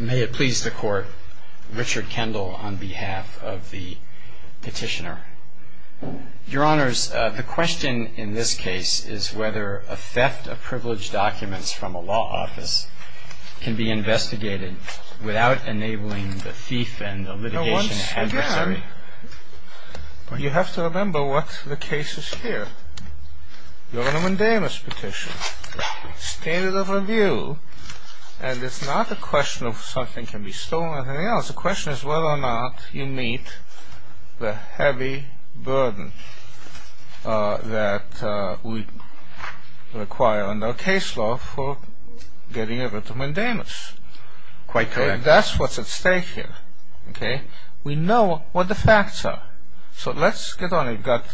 May it please the Court, Richard Kendall on behalf of the petitioner. Your Honors, the question in this case is whether a theft of privileged documents from a law office can be investigated without enabling the thief and the litigation adversary... Now once again, you have to remember what the case is here. You're on a mandamus petition. Standard of review. And it's not a question of something can be stolen or anything else. The question is whether or not you meet the heavy burden that we require under case law for getting rid of mandamus. Quite correct. That's what's at stake here. We know what the facts are. So let's get on it. We've got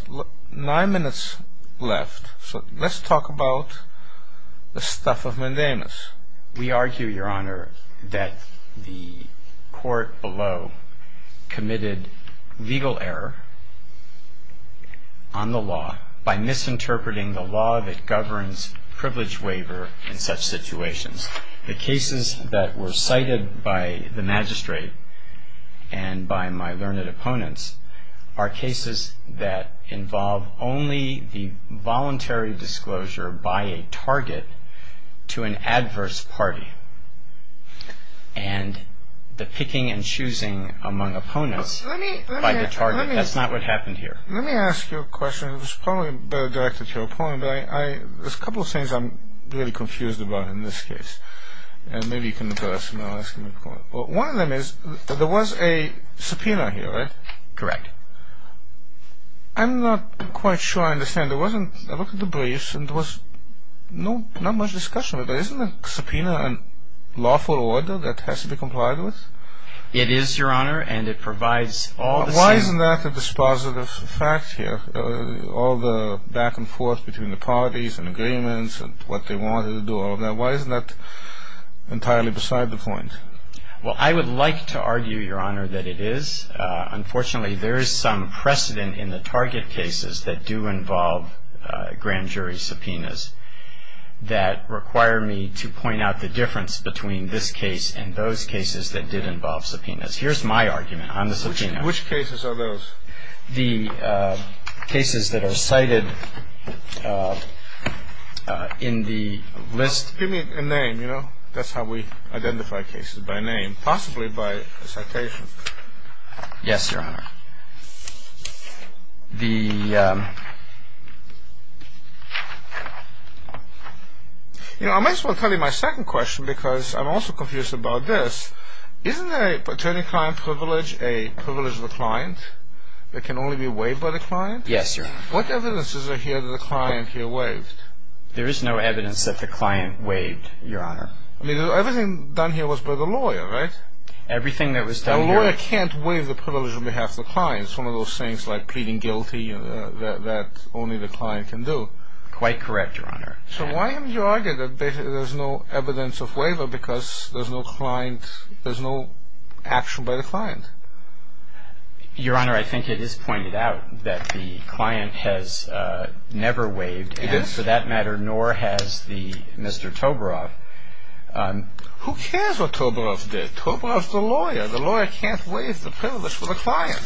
nine minutes left. So let's talk about the stuff of mandamus. We argue, Your Honor, that the court below committed legal error on the law by misinterpreting the law that governs privileged waiver in such situations. The cases that were cited by the magistrate and by my learned opponents are cases that involve only the voluntary disclosure by a target to an adverse party and the picking and choosing among opponents by the target. That's not what happened here. Let me ask you a question. It was probably better directed to your opponent, but there's a couple of things I'm really confused about in this case. And maybe you can address them. One of them is there was a subpoena here, right? Correct. I'm not quite sure I understand. I looked at the briefs and there was not much discussion. Isn't a subpoena a lawful order that has to be complied with? It is, Your Honor, and it provides all the same. It's not a lawful order, but it does provide some precedent for what the target parties and agreements and what they wanted to do, all of that. Why isn't that entirely beside the point? Well, I would like to argue, Your Honor, that it is. Unfortunately, there is some precedent in the target cases that do involve grand jury subpoenas that require me to point out the difference between this case and those cases that did involve subpoenas. Here's my argument on the subpoena. Which cases are those? The cases that are cited in the list. Give me a name, you know? That's how we identify cases, by name, possibly by citation. Yes, Your Honor. The – You know, I might as well tell you my second question because I'm also confused about this. Isn't an attorney-client privilege a privilege of a client that can only be waived by the client? Yes, Your Honor. What evidence is there here that the client here waived? There is no evidence that the client waived, Your Honor. I mean, everything done here was by the lawyer, right? Everything that was done here – A lawyer can't waive the privilege on behalf of the client. It's one of those things like pleading guilty that only the client can do. Quite correct, Your Honor. So why have you argued that there's no evidence of waiver because there's no client – there's no action by the client? Your Honor, I think it is pointed out that the client has never waived. He didn't? And for that matter, nor has the – Mr. Toborow. Who cares what Toborow did? Toborow's the lawyer. The lawyer can't waive the privilege for the client.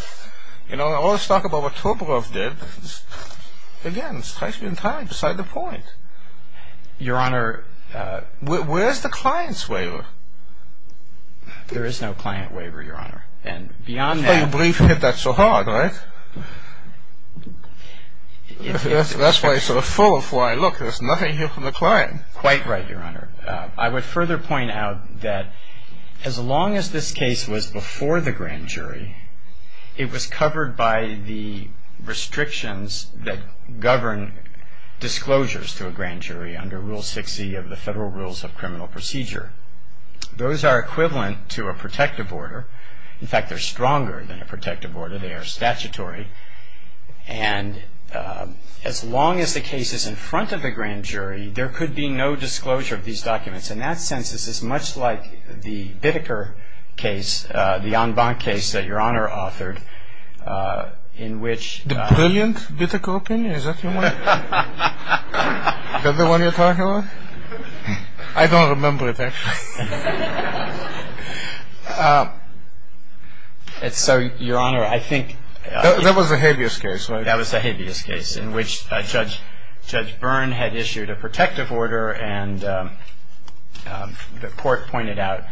You know, all this talk about what Toborow did, again, strikes me entirely beside the point. Your Honor – Where's the client's waiver? There is no client waiver, Your Honor. And beyond that – I don't believe you hit that so hard, right? That's why you sort of fall before I look. There's nothing here from the client. Quite right, Your Honor. I would further point out that as long as this case was before the grand jury, it was covered by the restrictions that govern disclosures to a grand jury under Rule 6e of the Federal Rules of Criminal Procedure. Those are equivalent to a protective order. In fact, they're stronger than a protective order. They are statutory. And as long as the case is in front of a grand jury, there could be no disclosure of these documents. In that sense, this is much like the Bitteker case, the en banc case that Your Honor authored, in which – The brilliant Bitteker opinion? Is that the one you're talking about? I don't remember it, actually. So, Your Honor, I think – That was the habeas case, right? That was the habeas case, in which Judge Byrne had issued a protective order, and the court pointed out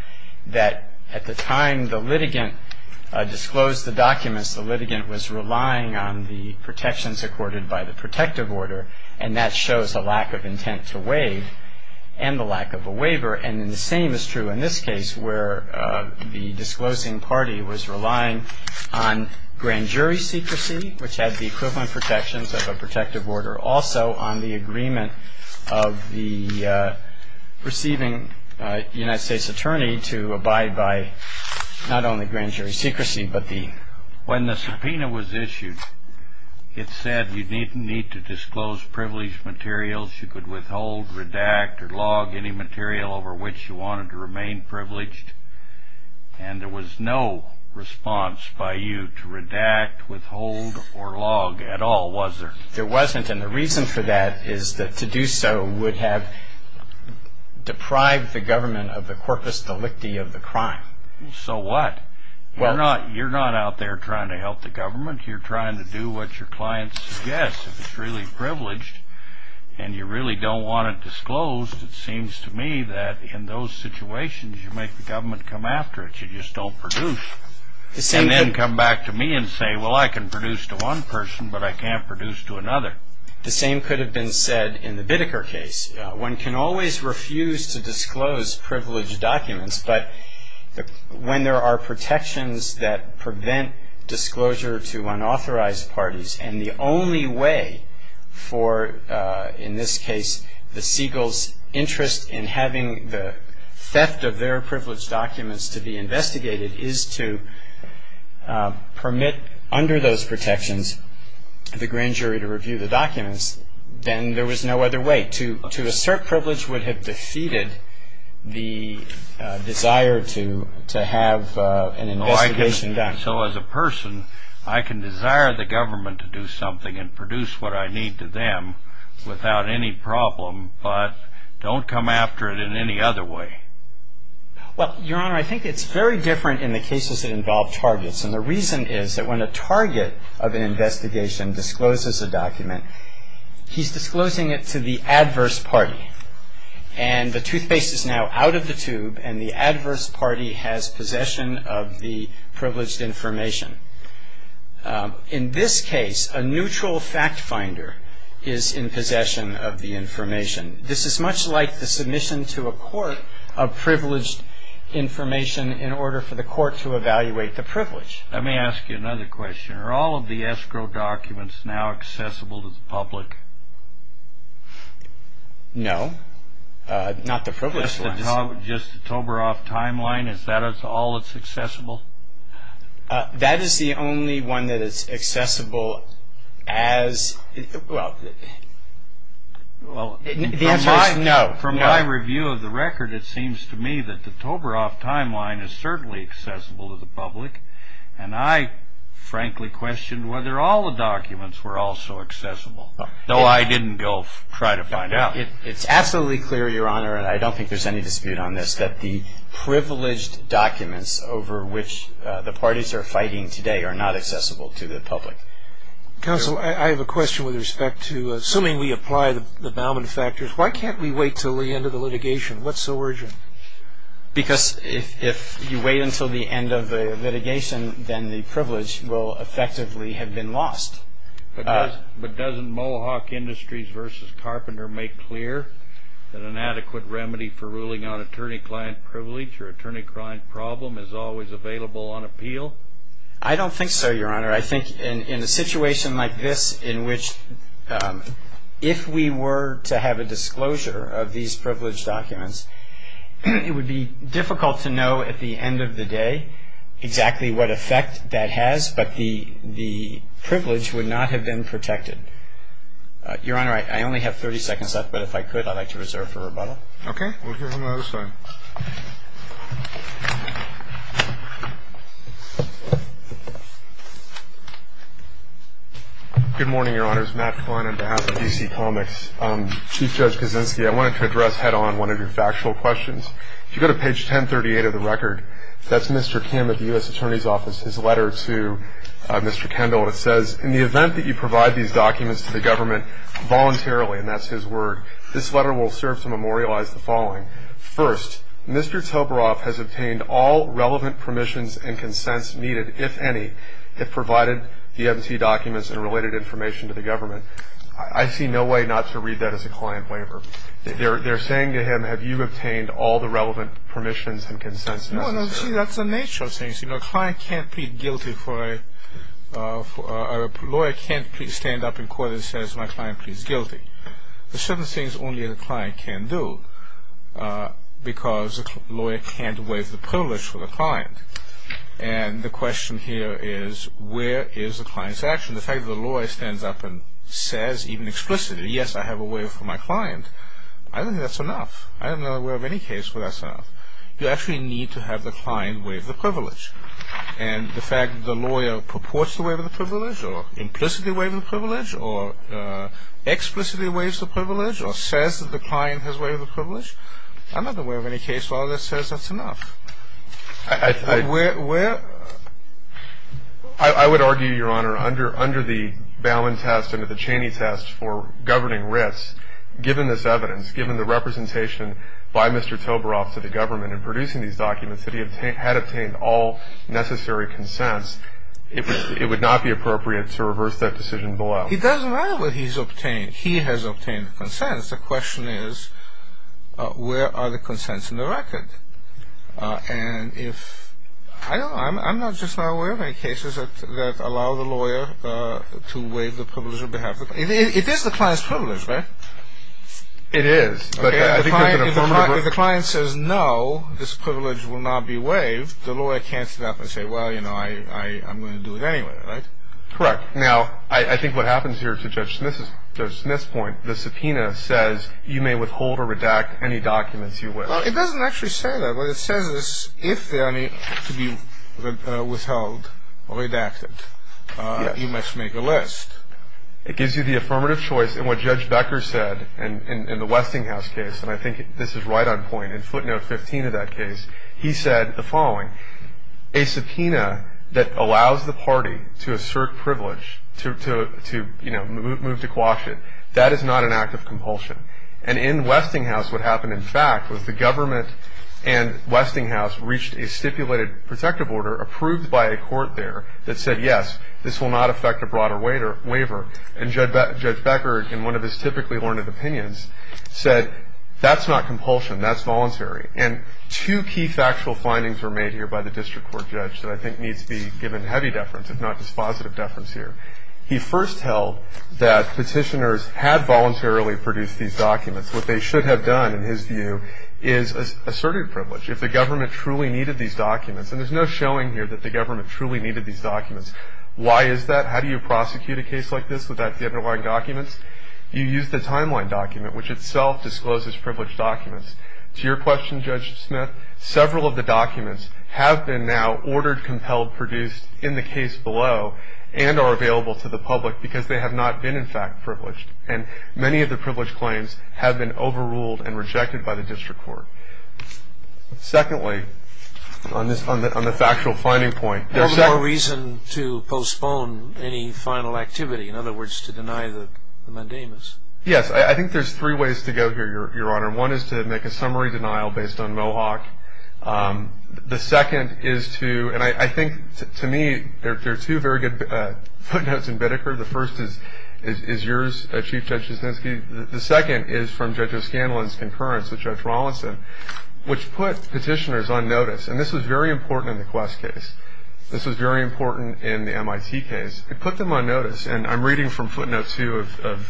that at the time the litigant disclosed the documents, the litigant was relying on the protections accorded by the protective order, and that shows a lack of intent to waive and the lack of a waiver. And the same is true in this case, where the disclosing party was relying on grand jury secrecy, which had the equivalent protections of a protective order, also on the agreement of the receiving United States attorney to abide by not only grand jury secrecy, but the – When the subpoena was issued, it said you didn't need to disclose privileged materials. You could withhold, redact, or log any material over which you wanted to remain privileged, and there was no response by you to redact, withhold, or log at all, was there? There wasn't, and the reason for that is that to do so would have deprived the government of the corpus delicti of the crime. So what? You're not out there trying to help the government. You're trying to do what your client suggests. If it's really privileged and you really don't want it disclosed, it seems to me that in those situations you make the government come after it. You just don't produce. And then come back to me and say, well, I can produce to one person, but I can't produce to another. The same could have been said in the Bideker case. One can always refuse to disclose privileged documents, but when there are protections that prevent disclosure to unauthorized parties, and the only way for, in this case, the Segal's interest in having the theft of their privileged documents to be investigated is to permit under those protections the grand jury to review the documents, then there was no other way. To assert privilege would have defeated the desire to have an investigation done. And so as a person, I can desire the government to do something and produce what I need to them without any problem, but don't come after it in any other way. Well, Your Honor, I think it's very different in the cases that involve targets. And the reason is that when a target of an investigation discloses a document, he's disclosing it to the adverse party. And the toothpaste is now out of the tube, and the adverse party has possession of the privileged information. In this case, a neutral fact finder is in possession of the information. This is much like the submission to a court of privileged information in order for the court to evaluate the privilege. Let me ask you another question. Are all of the escrow documents now accessible to the public? No, not the privileged ones. Just the Toberoff timeline, is that all that's accessible? That is the only one that is accessible as, well, no. From my review of the record, it seems to me that the Toberoff timeline is certainly accessible to the public, and I frankly question whether all the documents were also accessible. No, I didn't go try to find out. It's absolutely clear, Your Honor, and I don't think there's any dispute on this, that the privileged documents over which the parties are fighting today are not accessible to the public. Counsel, I have a question with respect to, assuming we apply the Bauman factors, why can't we wait until the end of the litigation? What's the origin? Because if you wait until the end of the litigation, then the privilege will effectively have been lost. But doesn't Mohawk Industries v. Carpenter make clear that an adequate remedy for ruling on attorney-client privilege or attorney-client problem is always available on appeal? I don't think so, Your Honor. I think in a situation like this in which, if we were to have a disclosure of these privileged documents, it would be difficult to know at the end of the day exactly what effect that has, but the privilege would not have been protected. Your Honor, I only have 30 seconds left, but if I could, I'd like to reserve for rebuttal. Okay. We'll hear from the other side. Good morning, Your Honors. Matt Flann on behalf of D.C. Comics. Chief Judge Kaczynski, I wanted to address head-on one of your factual questions. If you go to page 1038 of the record, that's Mr. Kim at the U.S. Attorney's Office, his letter to Mr. Kendall. It says, In the event that you provide these documents to the government voluntarily, and that's his word, this letter will serve to memorialize the following. First, Mr. Tobaroff has obtained all relevant permissions and consents needed, if any, that provided the empty documents and related information to the government. I see no way not to read that as a client waiver. They're saying to him, have you obtained all the relevant permissions and consents? No, see, that's the nature of things. A client can't plead guilty for a... A lawyer can't stand up in court and say, my client pleads guilty. There are certain things only a client can do, because a lawyer can't waive the privilege for the client. And the question here is, where is the client's action? The fact that the lawyer stands up and says, even explicitly, yes, I have a waiver for my client, I don't think that's enough. I'm not aware of any case where that's enough. You actually need to have the client waive the privilege. And the fact that the lawyer purports to waive the privilege or implicitly waives the privilege or explicitly waives the privilege or says that the client has waived the privilege, I'm not aware of any case where that says that's enough. Where... I would argue, Your Honor, under the Balin test and the Cheney test for governing risk, given this evidence, given the representation by Mr. Toberoff to the government in producing these documents, that he had obtained all necessary consents, it would not be appropriate to reverse that decision below. It doesn't matter what he's obtained. He has obtained consents. The question is, where are the consents in the record? And if... I don't know. I'm not just not aware of any cases that allow the lawyer to waive the privilege on behalf of... It is the client's privilege, right? It is. But if the client says, no, this privilege will not be waived, the lawyer can't stand up and say, well, you know, I'm going to do it anyway, right? Correct. Now, I think what happens here to Judge Smith's point, the subpoena says you may withhold or redact any documents you wish. Well, it doesn't actually say that. What it says is if they are to be withheld or redacted, you must make a list. It gives you the affirmative choice. And what Judge Becker said in the Westinghouse case, and I think this is right on point, in footnote 15 of that case, he said the following, a subpoena that allows the party to assert privilege, to, you know, move to quash it, that is not an act of compulsion. And in Westinghouse, what happened, in fact, was the government and Westinghouse reached a stipulated protective order approved by a court there that said, yes, this will not affect a broader waiver. And Judge Becker, in one of his typically learned opinions, said that's not compulsion, that's voluntary. And two key factual findings were made here by the district court judge that I think needs to be given heavy deference, if not just positive deference here. He first held that petitioners had voluntarily produced these documents. What they should have done, in his view, is asserted privilege. If the government truly needed these documents, and there's no showing here that the government truly needed these documents. Why is that? How do you prosecute a case like this without the underlying documents? You use the timeline document, which itself discloses privileged documents. To your question, Judge Smith, several of the documents have been now ordered, compelled, produced in the case below and are available to the public because they have not been, in fact, privileged. And many of the privileged claims have been overruled and rejected by the district court. Secondly, on the factual finding point. There's no reason to postpone any final activity. In other words, to deny the mandamus. Yes. I think there's three ways to go here, Your Honor. One is to make a summary denial based on Mohawk. The second is to, and I think, to me, there are two very good footnotes in Bideker. The first is yours, Chief Judge Jasinski. The second is from Judge O'Scanlan's concurrence with Judge Rawlinson, which put petitioners on notice. And this was very important in the Quest case. This was very important in the MIT case. It put them on notice. And I'm reading from footnote two of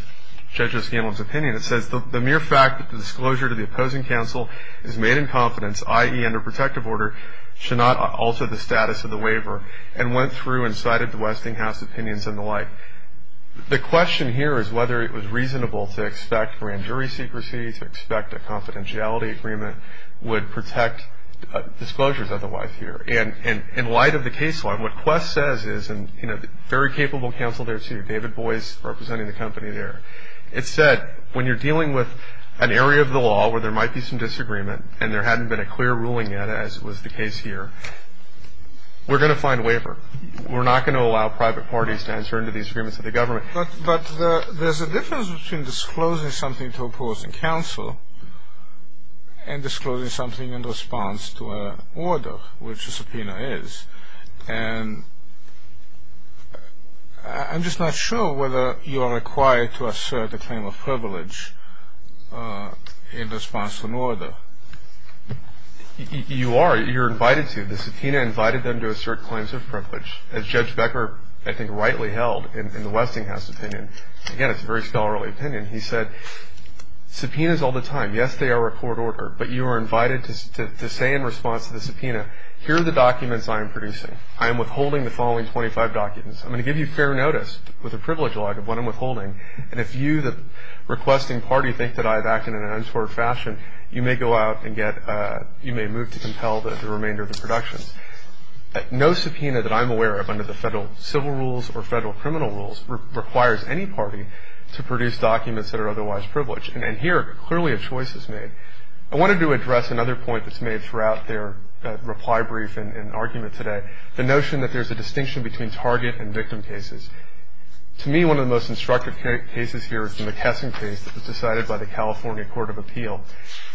Judge O'Scanlan's opinion. It says, The mere fact that the disclosure to the opposing counsel is made in confidence, i.e., under protective order, should not alter the status of the waiver. And went through and cited the Westinghouse opinions and the like. The question here is whether it was reasonable to expect grand jury secrecy, to expect a confidentiality agreement would protect disclosures otherwise here. And in light of the case law, what Quest says is, and, you know, very capable counsel there, too, David Boies representing the company there. It said, when you're dealing with an area of the law where there might be some disagreement and there hadn't been a clear ruling yet, as was the case here, we're going to find waiver. We're not going to allow private parties to enter into these agreements with the government. But there's a difference between disclosing something to opposing counsel and disclosing something in response to an order, which a subpoena is. And I'm just not sure whether you are required to assert a claim of privilege in response to an order. You are. You're invited to. The subpoena invited them to assert claims of privilege. As Judge Becker, I think, rightly held in the Westinghouse opinion. Again, it's a very scholarly opinion. He said, subpoenas all the time. Yes, they are a court order. But you are invited to say in response to the subpoena, here are the documents I am producing. I am withholding the following 25 documents. I'm going to give you fair notice with a privilege log of what I'm withholding. And if you, the requesting party, think that I have acted in an untoward fashion, you may go out and get, you may move to compel the remainder of the production. No subpoena that I'm aware of under the federal civil rules or federal criminal rules requires any party to produce documents that are otherwise privileged. And here, clearly a choice is made. I wanted to address another point that's made throughout their reply brief and argument today, the notion that there's a distinction between target and victim cases. To me, one of the most instructive cases here is the McKesson case that was decided by the California Court of Appeal.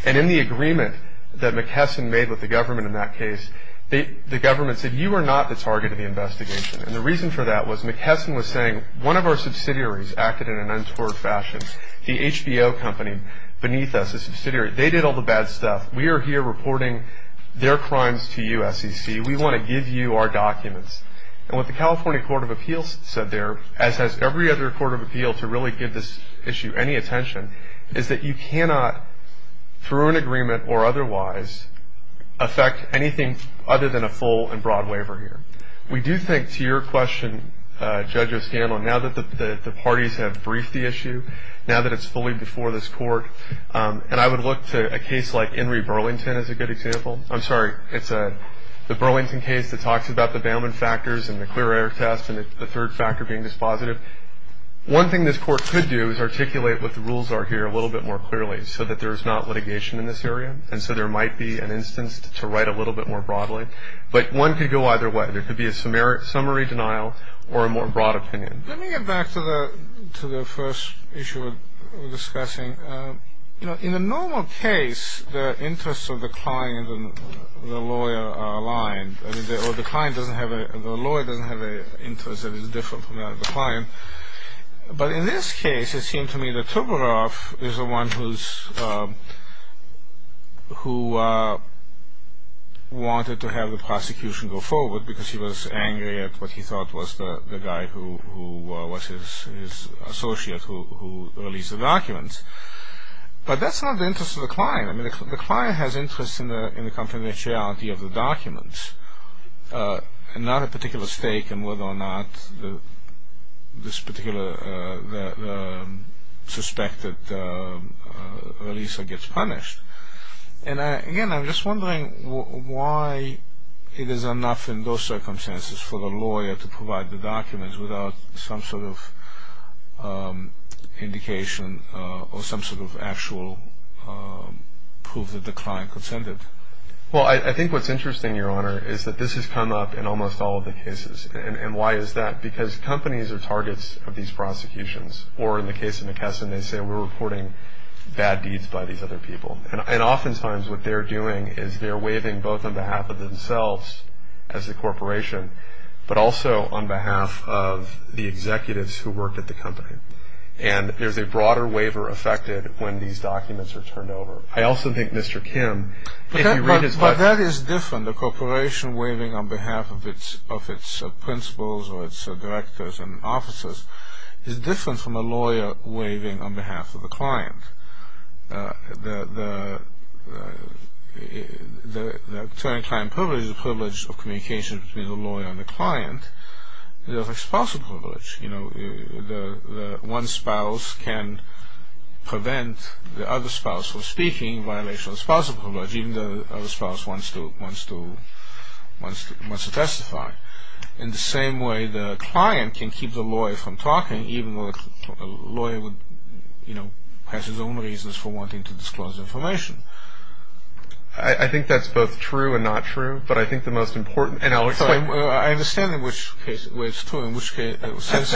And in the agreement that McKesson made with the government in that case, the government said, you are not the target of the investigation. And the reason for that was McKesson was saying, one of our subsidiaries acted in an untoward fashion. The HBO company beneath us, the subsidiary, they did all the bad stuff. We are here reporting their crimes to you, SEC. We want to give you our documents. And what the California Court of Appeals said there, as has every other court of appeal to really give this issue any attention, is that you cannot, through an agreement or otherwise, affect anything other than a full and broad waiver here. We do think, to your question, Judge O'Scanlon, now that the parties have briefed the issue, now that it's fully before this court, and I would look to a case like Inree Burlington as a good example. I'm sorry, it's the Burlington case that talks about the Bailman factors and the clear error test and the third factor being dispositive. One thing this court could do is articulate what the rules are here a little bit more clearly so that there is not litigation in this area, and so there might be an instance to write a little bit more broadly. But one could go either way. There could be a summary denial or a more broad opinion. Let me get back to the first issue we're discussing. The lawyer doesn't have an interest that is different from the client. But in this case, it seemed to me that Tuberoff is the one who wanted to have the prosecution go forward because he was angry at what he thought was the guy who was his associate who released the documents. But that's not the interest of the client. The client has interest in the confidentiality of the documents and not a particular stake in whether or not this particular suspected releaser gets punished. Again, I'm just wondering why it is enough in those circumstances for the lawyer to provide the documents without some sort of indication or some sort of actual proof that the client consented. Well, I think what's interesting, Your Honor, is that this has come up in almost all of the cases. And why is that? Because companies are targets of these prosecutions, or in the case of McKesson, they say we're reporting bad deeds by these other people. And oftentimes what they're doing is they're waiving both on behalf of themselves as a corporation, but also on behalf of the executives who work at the company. And there's a broader waiver affected when these documents are turned over. I also think Mr. Kim, if you read his book. But that is different. The corporation waiving on behalf of its principals or its directors and officers is different from a lawyer waiving on behalf of the client. The attorney-client privilege is the privilege of communication between the lawyer and the client. It's like spousal privilege. One spouse can prevent the other spouse from speaking in violation of spousal privilege, even though the other spouse wants to testify. In the same way the client can keep the lawyer from talking, even though the lawyer has his own reasons for wanting to disclose information. I think that's both true and not true. But I think the most important, and I'll explain. I understand in which case it's true, in which sense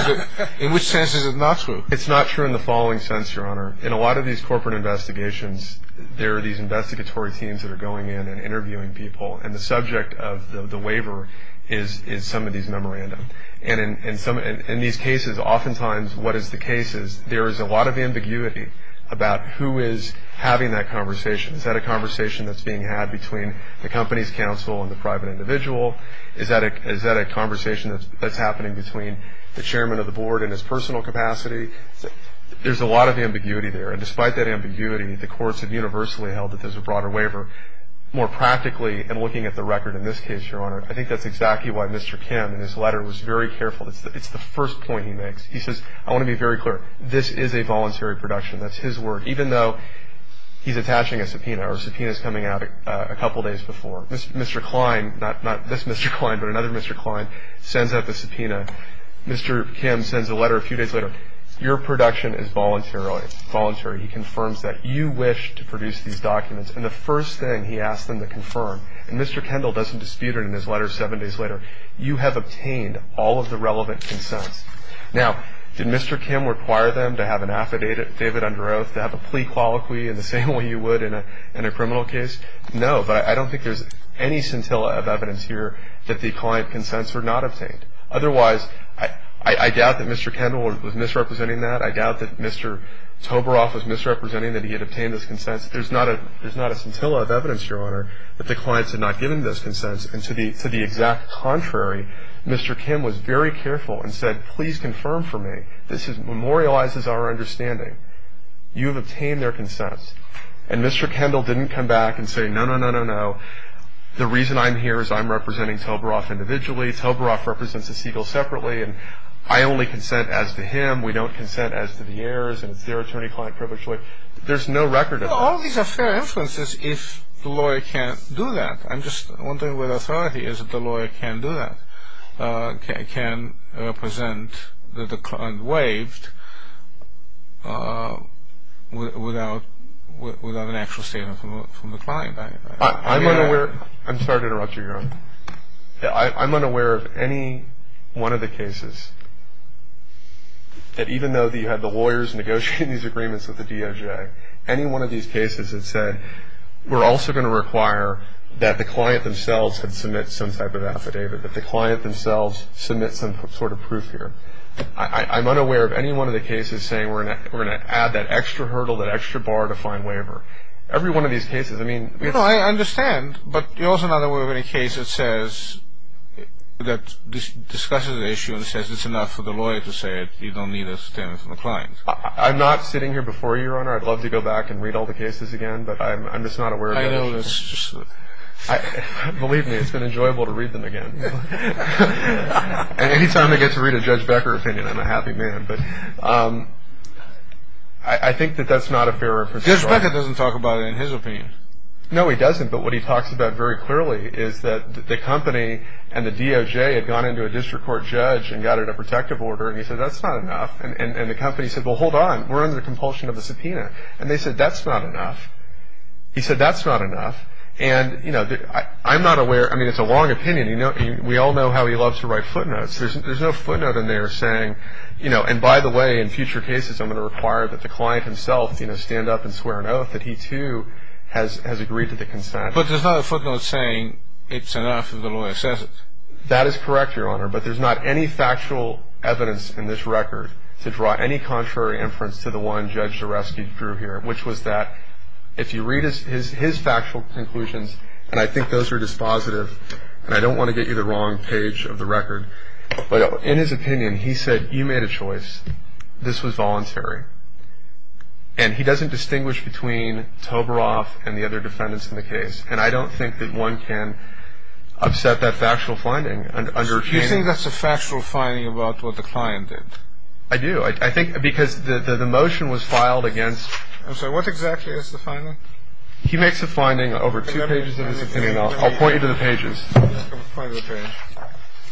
is it not true. It's not true in the following sense, Your Honor. In a lot of these corporate investigations, there are these investigatory teams that are going in and interviewing people. And the subject of the waiver is some of these memorandum. And in these cases, oftentimes, what is the case is there is a lot of ambiguity about who is having that conversation. Is that a conversation that's being had between the company's counsel and the private individual? Is that a conversation that's happening between the chairman of the board and his personal capacity? There's a lot of ambiguity there. And despite that ambiguity, the courts have universally held that there's a broader waiver. More practically, in looking at the record in this case, Your Honor, I think that's exactly why Mr. Kim in his letter was very careful. It's the first point he makes. He says, I want to be very clear, this is a voluntary production. That's his word, even though he's attaching a subpoena or a subpoena is coming out a couple days before. Mr. Klein, not this Mr. Klein, but another Mr. Klein, sends out the subpoena. Mr. Kim sends a letter a few days later. Your production is voluntary. He confirms that you wish to produce these documents. And the first thing he asks them to confirm, and Mr. Kendall doesn't dispute it in his letter seven days later, you have obtained all of the relevant consents. Now, did Mr. Kim require them to have an affidavit under oath, to have a plea colloquy in the same way you would in a criminal case? No, but I don't think there's any scintilla of evidence here that the client consents were not obtained. Otherwise, I doubt that Mr. Kendall was misrepresenting that. I doubt that Mr. Toberoff was misrepresenting that he had obtained those consents. There's not a scintilla of evidence, Your Honor, that the clients had not given those consents. And to the exact contrary, Mr. Kim was very careful and said, Please confirm for me. This memorializes our understanding. You have obtained their consents. And Mr. Kendall didn't come back and say, No, no, no, no, no. The reason I'm here is I'm representing Toberoff individually. Toberoff represents the Siegel separately, and I only consent as to him. We don't consent as to the heirs, and it's their attorney-client privilege. There's no record of it. Well, all these are fair inferences if the lawyer can't do that. I'm just wondering whether authority is that the lawyer can do that, can represent that the client waived without an actual statement from the client. I'm unaware. I'm sorry to interrupt you, Your Honor. I'm unaware of any one of the cases that even though you had the lawyers negotiating these agreements with the DOJ, any one of these cases that said, We're also going to require that the client themselves can submit some type of affidavit, that the client themselves submit some sort of proof here. I'm unaware of any one of the cases saying, We're going to add that extra hurdle, that extra bar to fine waiver. Every one of these cases, I mean, Well, I understand, but you're also not aware of any case that says, that discusses the issue and says it's enough for the lawyer to say it. You don't need a statement from the client. I'm not sitting here before you, Your Honor. I'd love to go back and read all the cases again, but I'm just not aware of any of them. I know. Believe me, it's been enjoyable to read them again. Any time I get to read a Judge Becker opinion, I'm a happy man. I think that that's not a fair inference. Judge Becker doesn't talk about it in his opinion. No, he doesn't. But what he talks about very clearly is that the company and the DOJ had gone into a district court judge and got it a protective order, and he said, That's not enough. And the company said, Well, hold on. We're under the compulsion of a subpoena. And they said, That's not enough. He said, That's not enough. And, you know, I'm not aware. I mean, it's a long opinion. We all know how he loves to write footnotes. There's no footnote in there saying, you know, And, by the way, in future cases, I'm going to require that the client himself, you know, stand up and swear an oath that he, too, has agreed to the consent. But there's no footnote saying it's enough if the lawyer says it. That is correct, Your Honor. But there's not any factual evidence in this record to draw any contrary inference to the one Judge Zaresky drew here, which was that if you read his factual conclusions, and I think those are dispositive, and I don't want to get you the wrong page of the record, but in his opinion, he said, You made a choice. This was voluntary. And he doesn't distinguish between Toberoff and the other defendants in the case. And I don't think that one can upset that factual finding under Cheney. Do you think that's a factual finding about what the client did? I do. I think because the motion was filed against. I'm sorry. What exactly is the finding? He makes a finding over two pages of his opinion. I'll point you to the pages. I'll point you to the pages.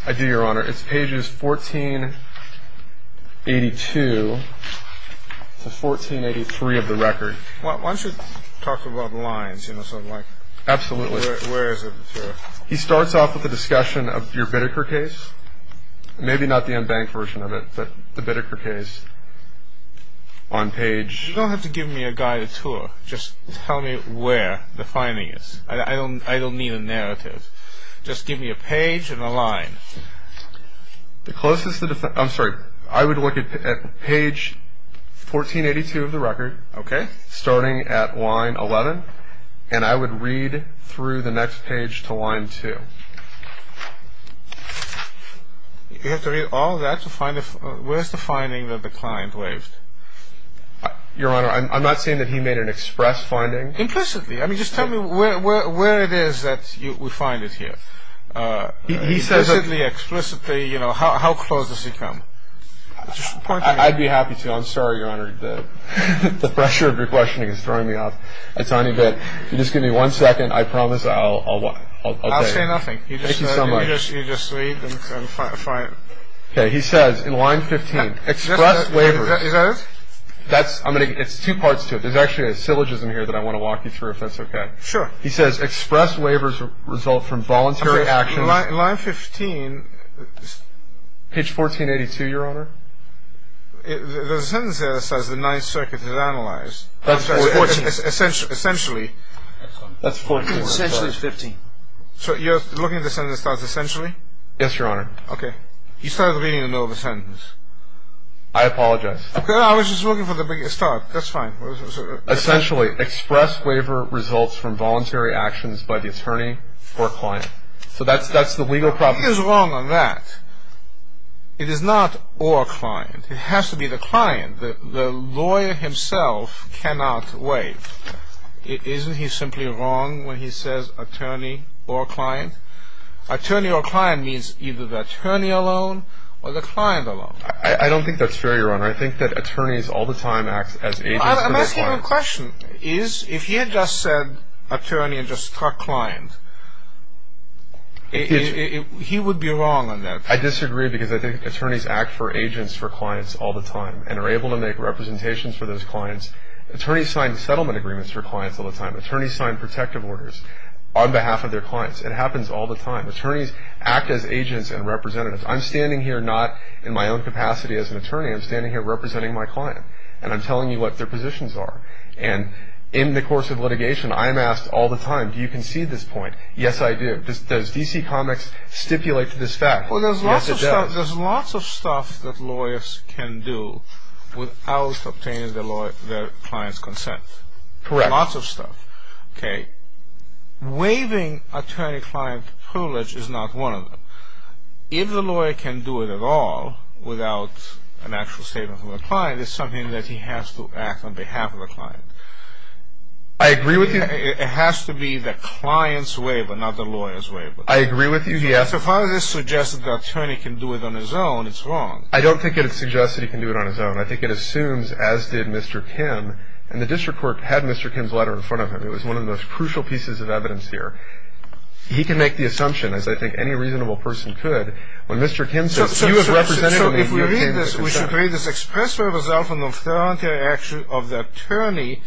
I do, Your Honor. It's pages 1482 to 1483 of the record. Why don't you talk about the lines? Absolutely. Where is it? He starts off with a discussion of your Bitteker case. Maybe not the unbanked version of it, but the Bitteker case on page... You don't have to give me a guided tour. Just tell me where the finding is. I don't need a narrative. Just give me a page and a line. I'm sorry. I would look at page 1482 of the record, starting at line 11, and I would read through the next page to line 2. You have to read all that to find it? Where's the finding that the client waived? Your Honor, I'm not saying that he made an express finding. Implicitly. Just tell me where it is that we find it here. Implicitly, explicitly. How close does he come? I'd be happy to. I'm sorry, Your Honor. The pressure of your questioning is throwing me off a tiny bit. Just give me one second. I promise I'll... I'll say nothing. Thank you so much. You just read and find it. Okay. He says in line 15, express waivers. Is that it? It's two parts to it. There's actually a syllogism here that I want to walk you through, if that's okay. Sure. He says express waivers result from voluntary actions. Line 15. Page 1482, Your Honor. The sentence there says the Ninth Circuit has analyzed. That's 14. Essentially. That's 14. Essentially is 15. So you're looking at the sentence that starts essentially? Yes, Your Honor. Okay. You started reading the middle of the sentence. I apologize. I was just looking for the beginning. Start. That's fine. Essentially, express waiver results from voluntary actions by the attorney or client. So that's the legal problem. He is wrong on that. It is not or client. It has to be the client. The lawyer himself cannot waive. Isn't he simply wrong when he says attorney or client? Attorney or client means either the attorney alone or the client alone. I don't think that's fair, Your Honor. I think that attorneys all the time act as agents for their clients. I'm asking you a question. If he had just said attorney and just struck client, he would be wrong on that. I disagree because I think attorneys act for agents for clients all the time and are able to make representations for those clients. Attorneys sign settlement agreements for clients all the time. Attorneys sign protective orders on behalf of their clients. It happens all the time. Attorneys act as agents and representatives. I'm standing here not in my own capacity as an attorney. I'm standing here representing my client, and I'm telling you what their positions are. And in the course of litigation, I'm asked all the time, do you concede this point? Yes, I do. Does DC Comics stipulate to this fact? Yes, it does. Well, there's lots of stuff that lawyers can do without obtaining their client's consent. Correct. Lots of stuff. Okay. Waiving attorney-client privilege is not one of them. If the lawyer can do it at all without an actual statement from the client, it's something that he has to act on behalf of the client. I agree with you. It has to be the client's waiver, not the lawyer's waiver. I agree with you. So as far as this suggests that the attorney can do it on his own, it's wrong. I don't think it suggests that he can do it on his own. I think it assumes, as did Mr. Kim, and the district court had Mr. Kim's letter in front of him. It was one of the most crucial pieces of evidence here. He can make the assumption, as I think any reasonable person could, when Mr. Kim says, you have represented me, you have came to consent. So if we read this, we should read this, express for yourself an authoritarian action of the attorney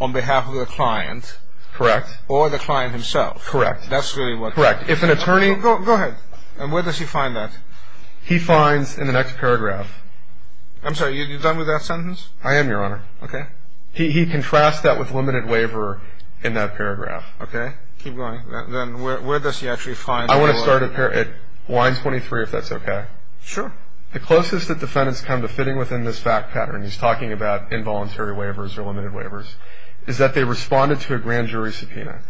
on behalf of the client. Correct. Or the client himself. Correct. That's really what. Correct. If an attorney... Go ahead. And where does he find that? He finds in the next paragraph. I'm sorry, are you done with that sentence? I am, Your Honor. Okay. He contrasts that with limited waiver in that paragraph. Okay. Keep going. Then where does he actually find... I want to start at line 23, if that's okay. Sure. The closest that defendants come to fitting within this fact pattern, he's talking about involuntary waivers or limited waivers, is that they responded to a grand jury subpoena.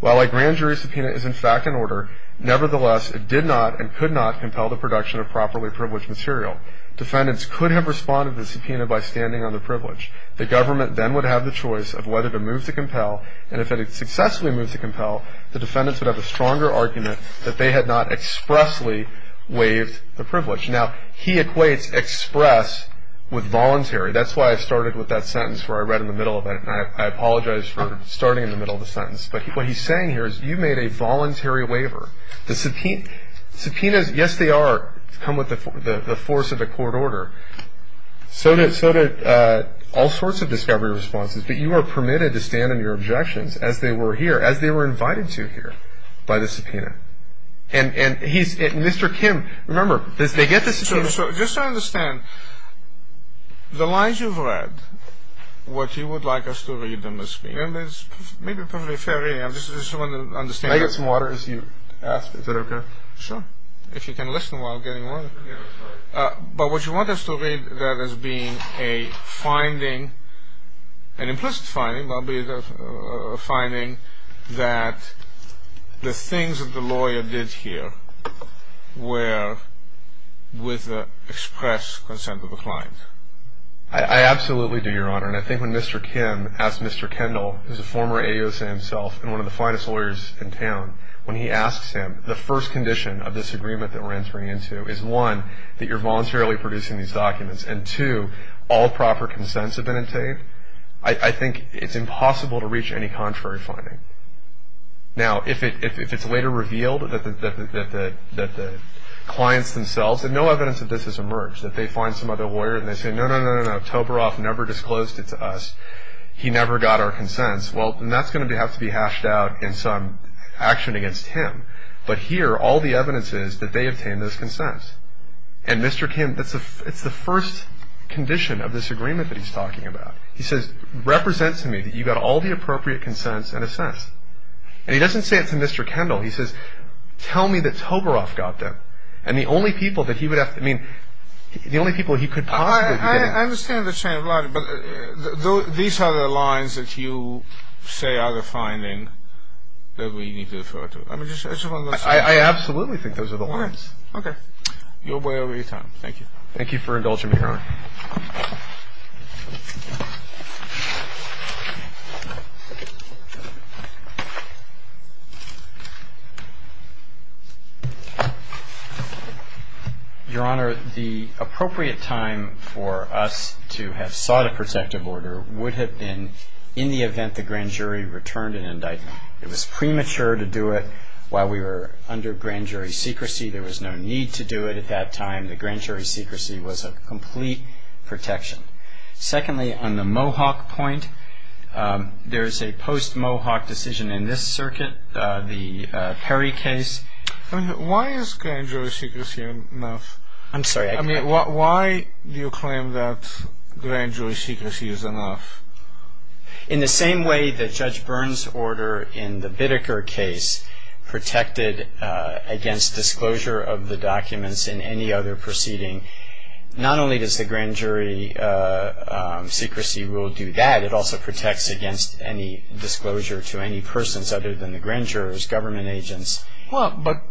While a grand jury subpoena is, in fact, in order, nevertheless it did not and could not compel the production of properly privileged material. Defendants could have responded to the subpoena by standing on the privilege. The government then would have the choice of whether to move to compel, and if it had successfully moved to compel, the defendants would have a stronger argument that they had not expressly waived the privilege. Now, he equates express with voluntary. That's why I started with that sentence where I read in the middle of it, and I apologize for starting in the middle of the sentence. But what he's saying here is you made a voluntary waiver. The subpoenas, yes, they are to come with the force of the court order. So did all sorts of discovery responses. But you are permitted to stand on your objections as they were here, as they were invited to here by the subpoena. And Mr. Kim, remember, they get the subpoena. So just to understand, the lines you've read, what you would like us to read them as being, and it's maybe probably a fair reading. I just want to understand. Can I get some water as you ask? Is that okay? Sure, if you can listen while I'm getting water. But what you want us to read that as being a finding, an implicit finding, finding that the things that the lawyer did here were with the express consent of the client. I absolutely do, Your Honor. And I think when Mr. Kim asked Mr. Kendall, who is a former AOSA himself and one of the finest lawyers in town, when he asks him, the first condition of this agreement that we're entering into is, one, that you're voluntarily producing these documents. And, two, all proper consents have been obtained. I think it's impossible to reach any contrary finding. Now, if it's later revealed that the clients themselves, and no evidence of this has emerged, that they find some other lawyer and they say, no, no, no, no, Toberoff never disclosed it to us. He never got our consents. Well, then that's going to have to be hashed out in some action against him. But here, all the evidence is that they obtained those consents. And Mr. Kim, it's the first condition of this agreement that he's talking about. He says, represent to me that you got all the appropriate consents and assess. And he doesn't say it to Mr. Kendall. He says, tell me that Toberoff got them. And the only people that he would have to, I mean, the only people he could possibly get. I understand the chain of logic. But these are the lines that you say are the finding that we need to defer to. I mean, it's one of those things. I absolutely think those are the lines. Okay. Your way or your time. Thank you. Thank you for indulging me, Your Honor. Your Honor, the appropriate time for us to have sought a protective order would have been in the event the grand jury returned an indictment. It was premature to do it while we were under grand jury secrecy. There was no need to do it at that time. The grand jury secrecy was a complete protection. Secondly, on the Mohawk point, there is a post-Mohawk decision in this circuit, the Perry case. Why is grand jury secrecy enough? I'm sorry. I mean, why do you claim that grand jury secrecy is enough? In the same way that Judge Byrne's order in the Bitteker case protected against disclosure of the documents in any other proceeding, not only does the grand jury secrecy rule do that, it also protects against any disclosure to any persons other than the grand jurors, government agents. Well, but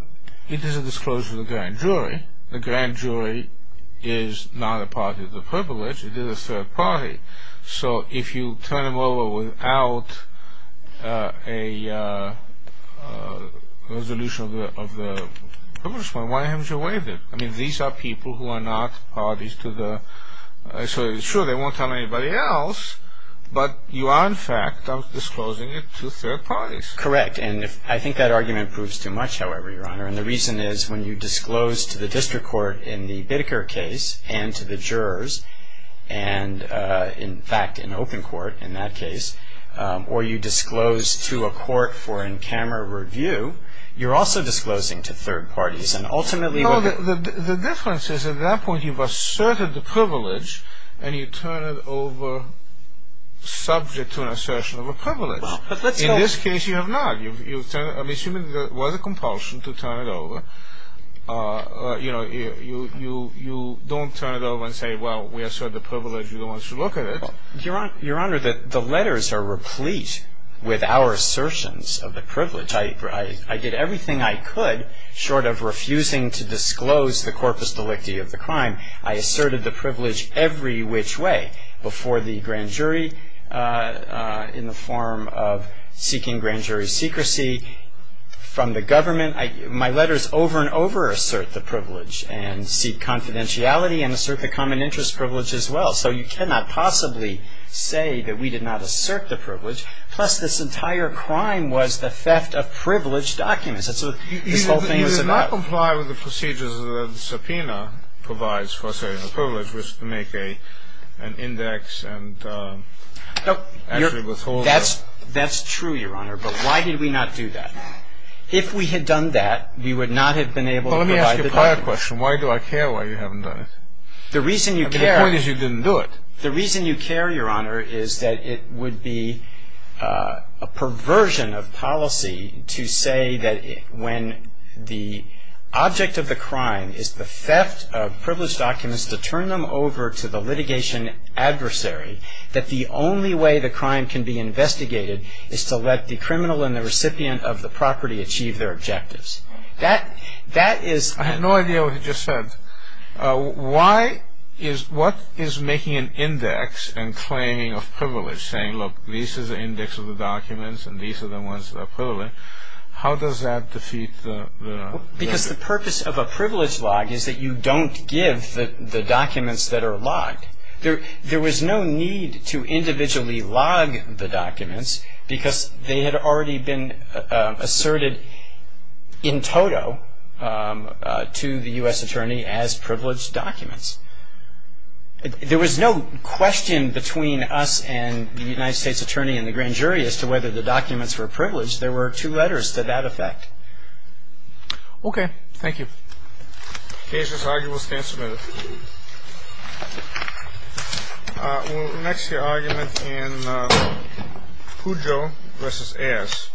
it is a disclosure to the grand jury. The grand jury is not a party to the privilege. It is a third party. So if you turn them over without a resolution of the privilege point, why haven't you waived it? I mean, these are people who are not parties to the – so sure, they won't tell anybody else, but you are, in fact, disclosing it to third parties. Correct. And I think that argument proves too much, however, Your Honor, and the reason is when you disclose to the district court in the Bitteker case and to the jurors and, in fact, an open court in that case, or you disclose to a court for in-camera review, you're also disclosing to third parties, and ultimately – No, the difference is at that point you've asserted the privilege and you turn it over subject to an assertion of a privilege. Well, but let's go – In this case, you have not. I'm assuming there was a compulsion to turn it over. You know, you don't turn it over and say, well, we assert the privilege. You don't want us to look at it. Your Honor, the letters are replete with our assertions of the privilege. I did everything I could short of refusing to disclose the corpus delicti of the crime. I asserted the privilege every which way before the grand jury in the form of seeking grand jury secrecy from the government. My letters over and over assert the privilege and seek confidentiality and assert the common interest privilege as well. So you cannot possibly say that we did not assert the privilege, plus this entire crime was the theft of privilege documents. This whole thing was about – You did not comply with the procedures that the subpoena provides for asserting the privilege, which is to make an index and actually withhold it. That's true, Your Honor, but why did we not do that? If we had done that, we would not have been able to provide the documents. Well, let me ask you a prior question. Why do I care why you haven't done it? The reason you care – The point is you didn't do it. The reason you care, Your Honor, is that it would be a perversion of policy to say that when the object of the crime is the theft of privilege documents to turn them over to the litigation adversary, that the only way the crime can be investigated is to let the criminal and the recipient of the property achieve their objectives. That is – I have no idea what you just said. Why is – what is making an index and claiming of privilege, saying, look, this is the index of the documents and these are the ones that are privileged, how does that defeat the – Because the purpose of a privilege log is that you don't give the documents that are logged. There was no need to individually log the documents because they had already been asserted in toto to the U.S. attorney as privileged documents. There was no question between us and the United States attorney and the grand jury as to whether the documents were privileged. There were two letters to that effect. Okay. Thank you. The case is argued. We'll stand submitted. Next, the argument in Pujo v. Ayers.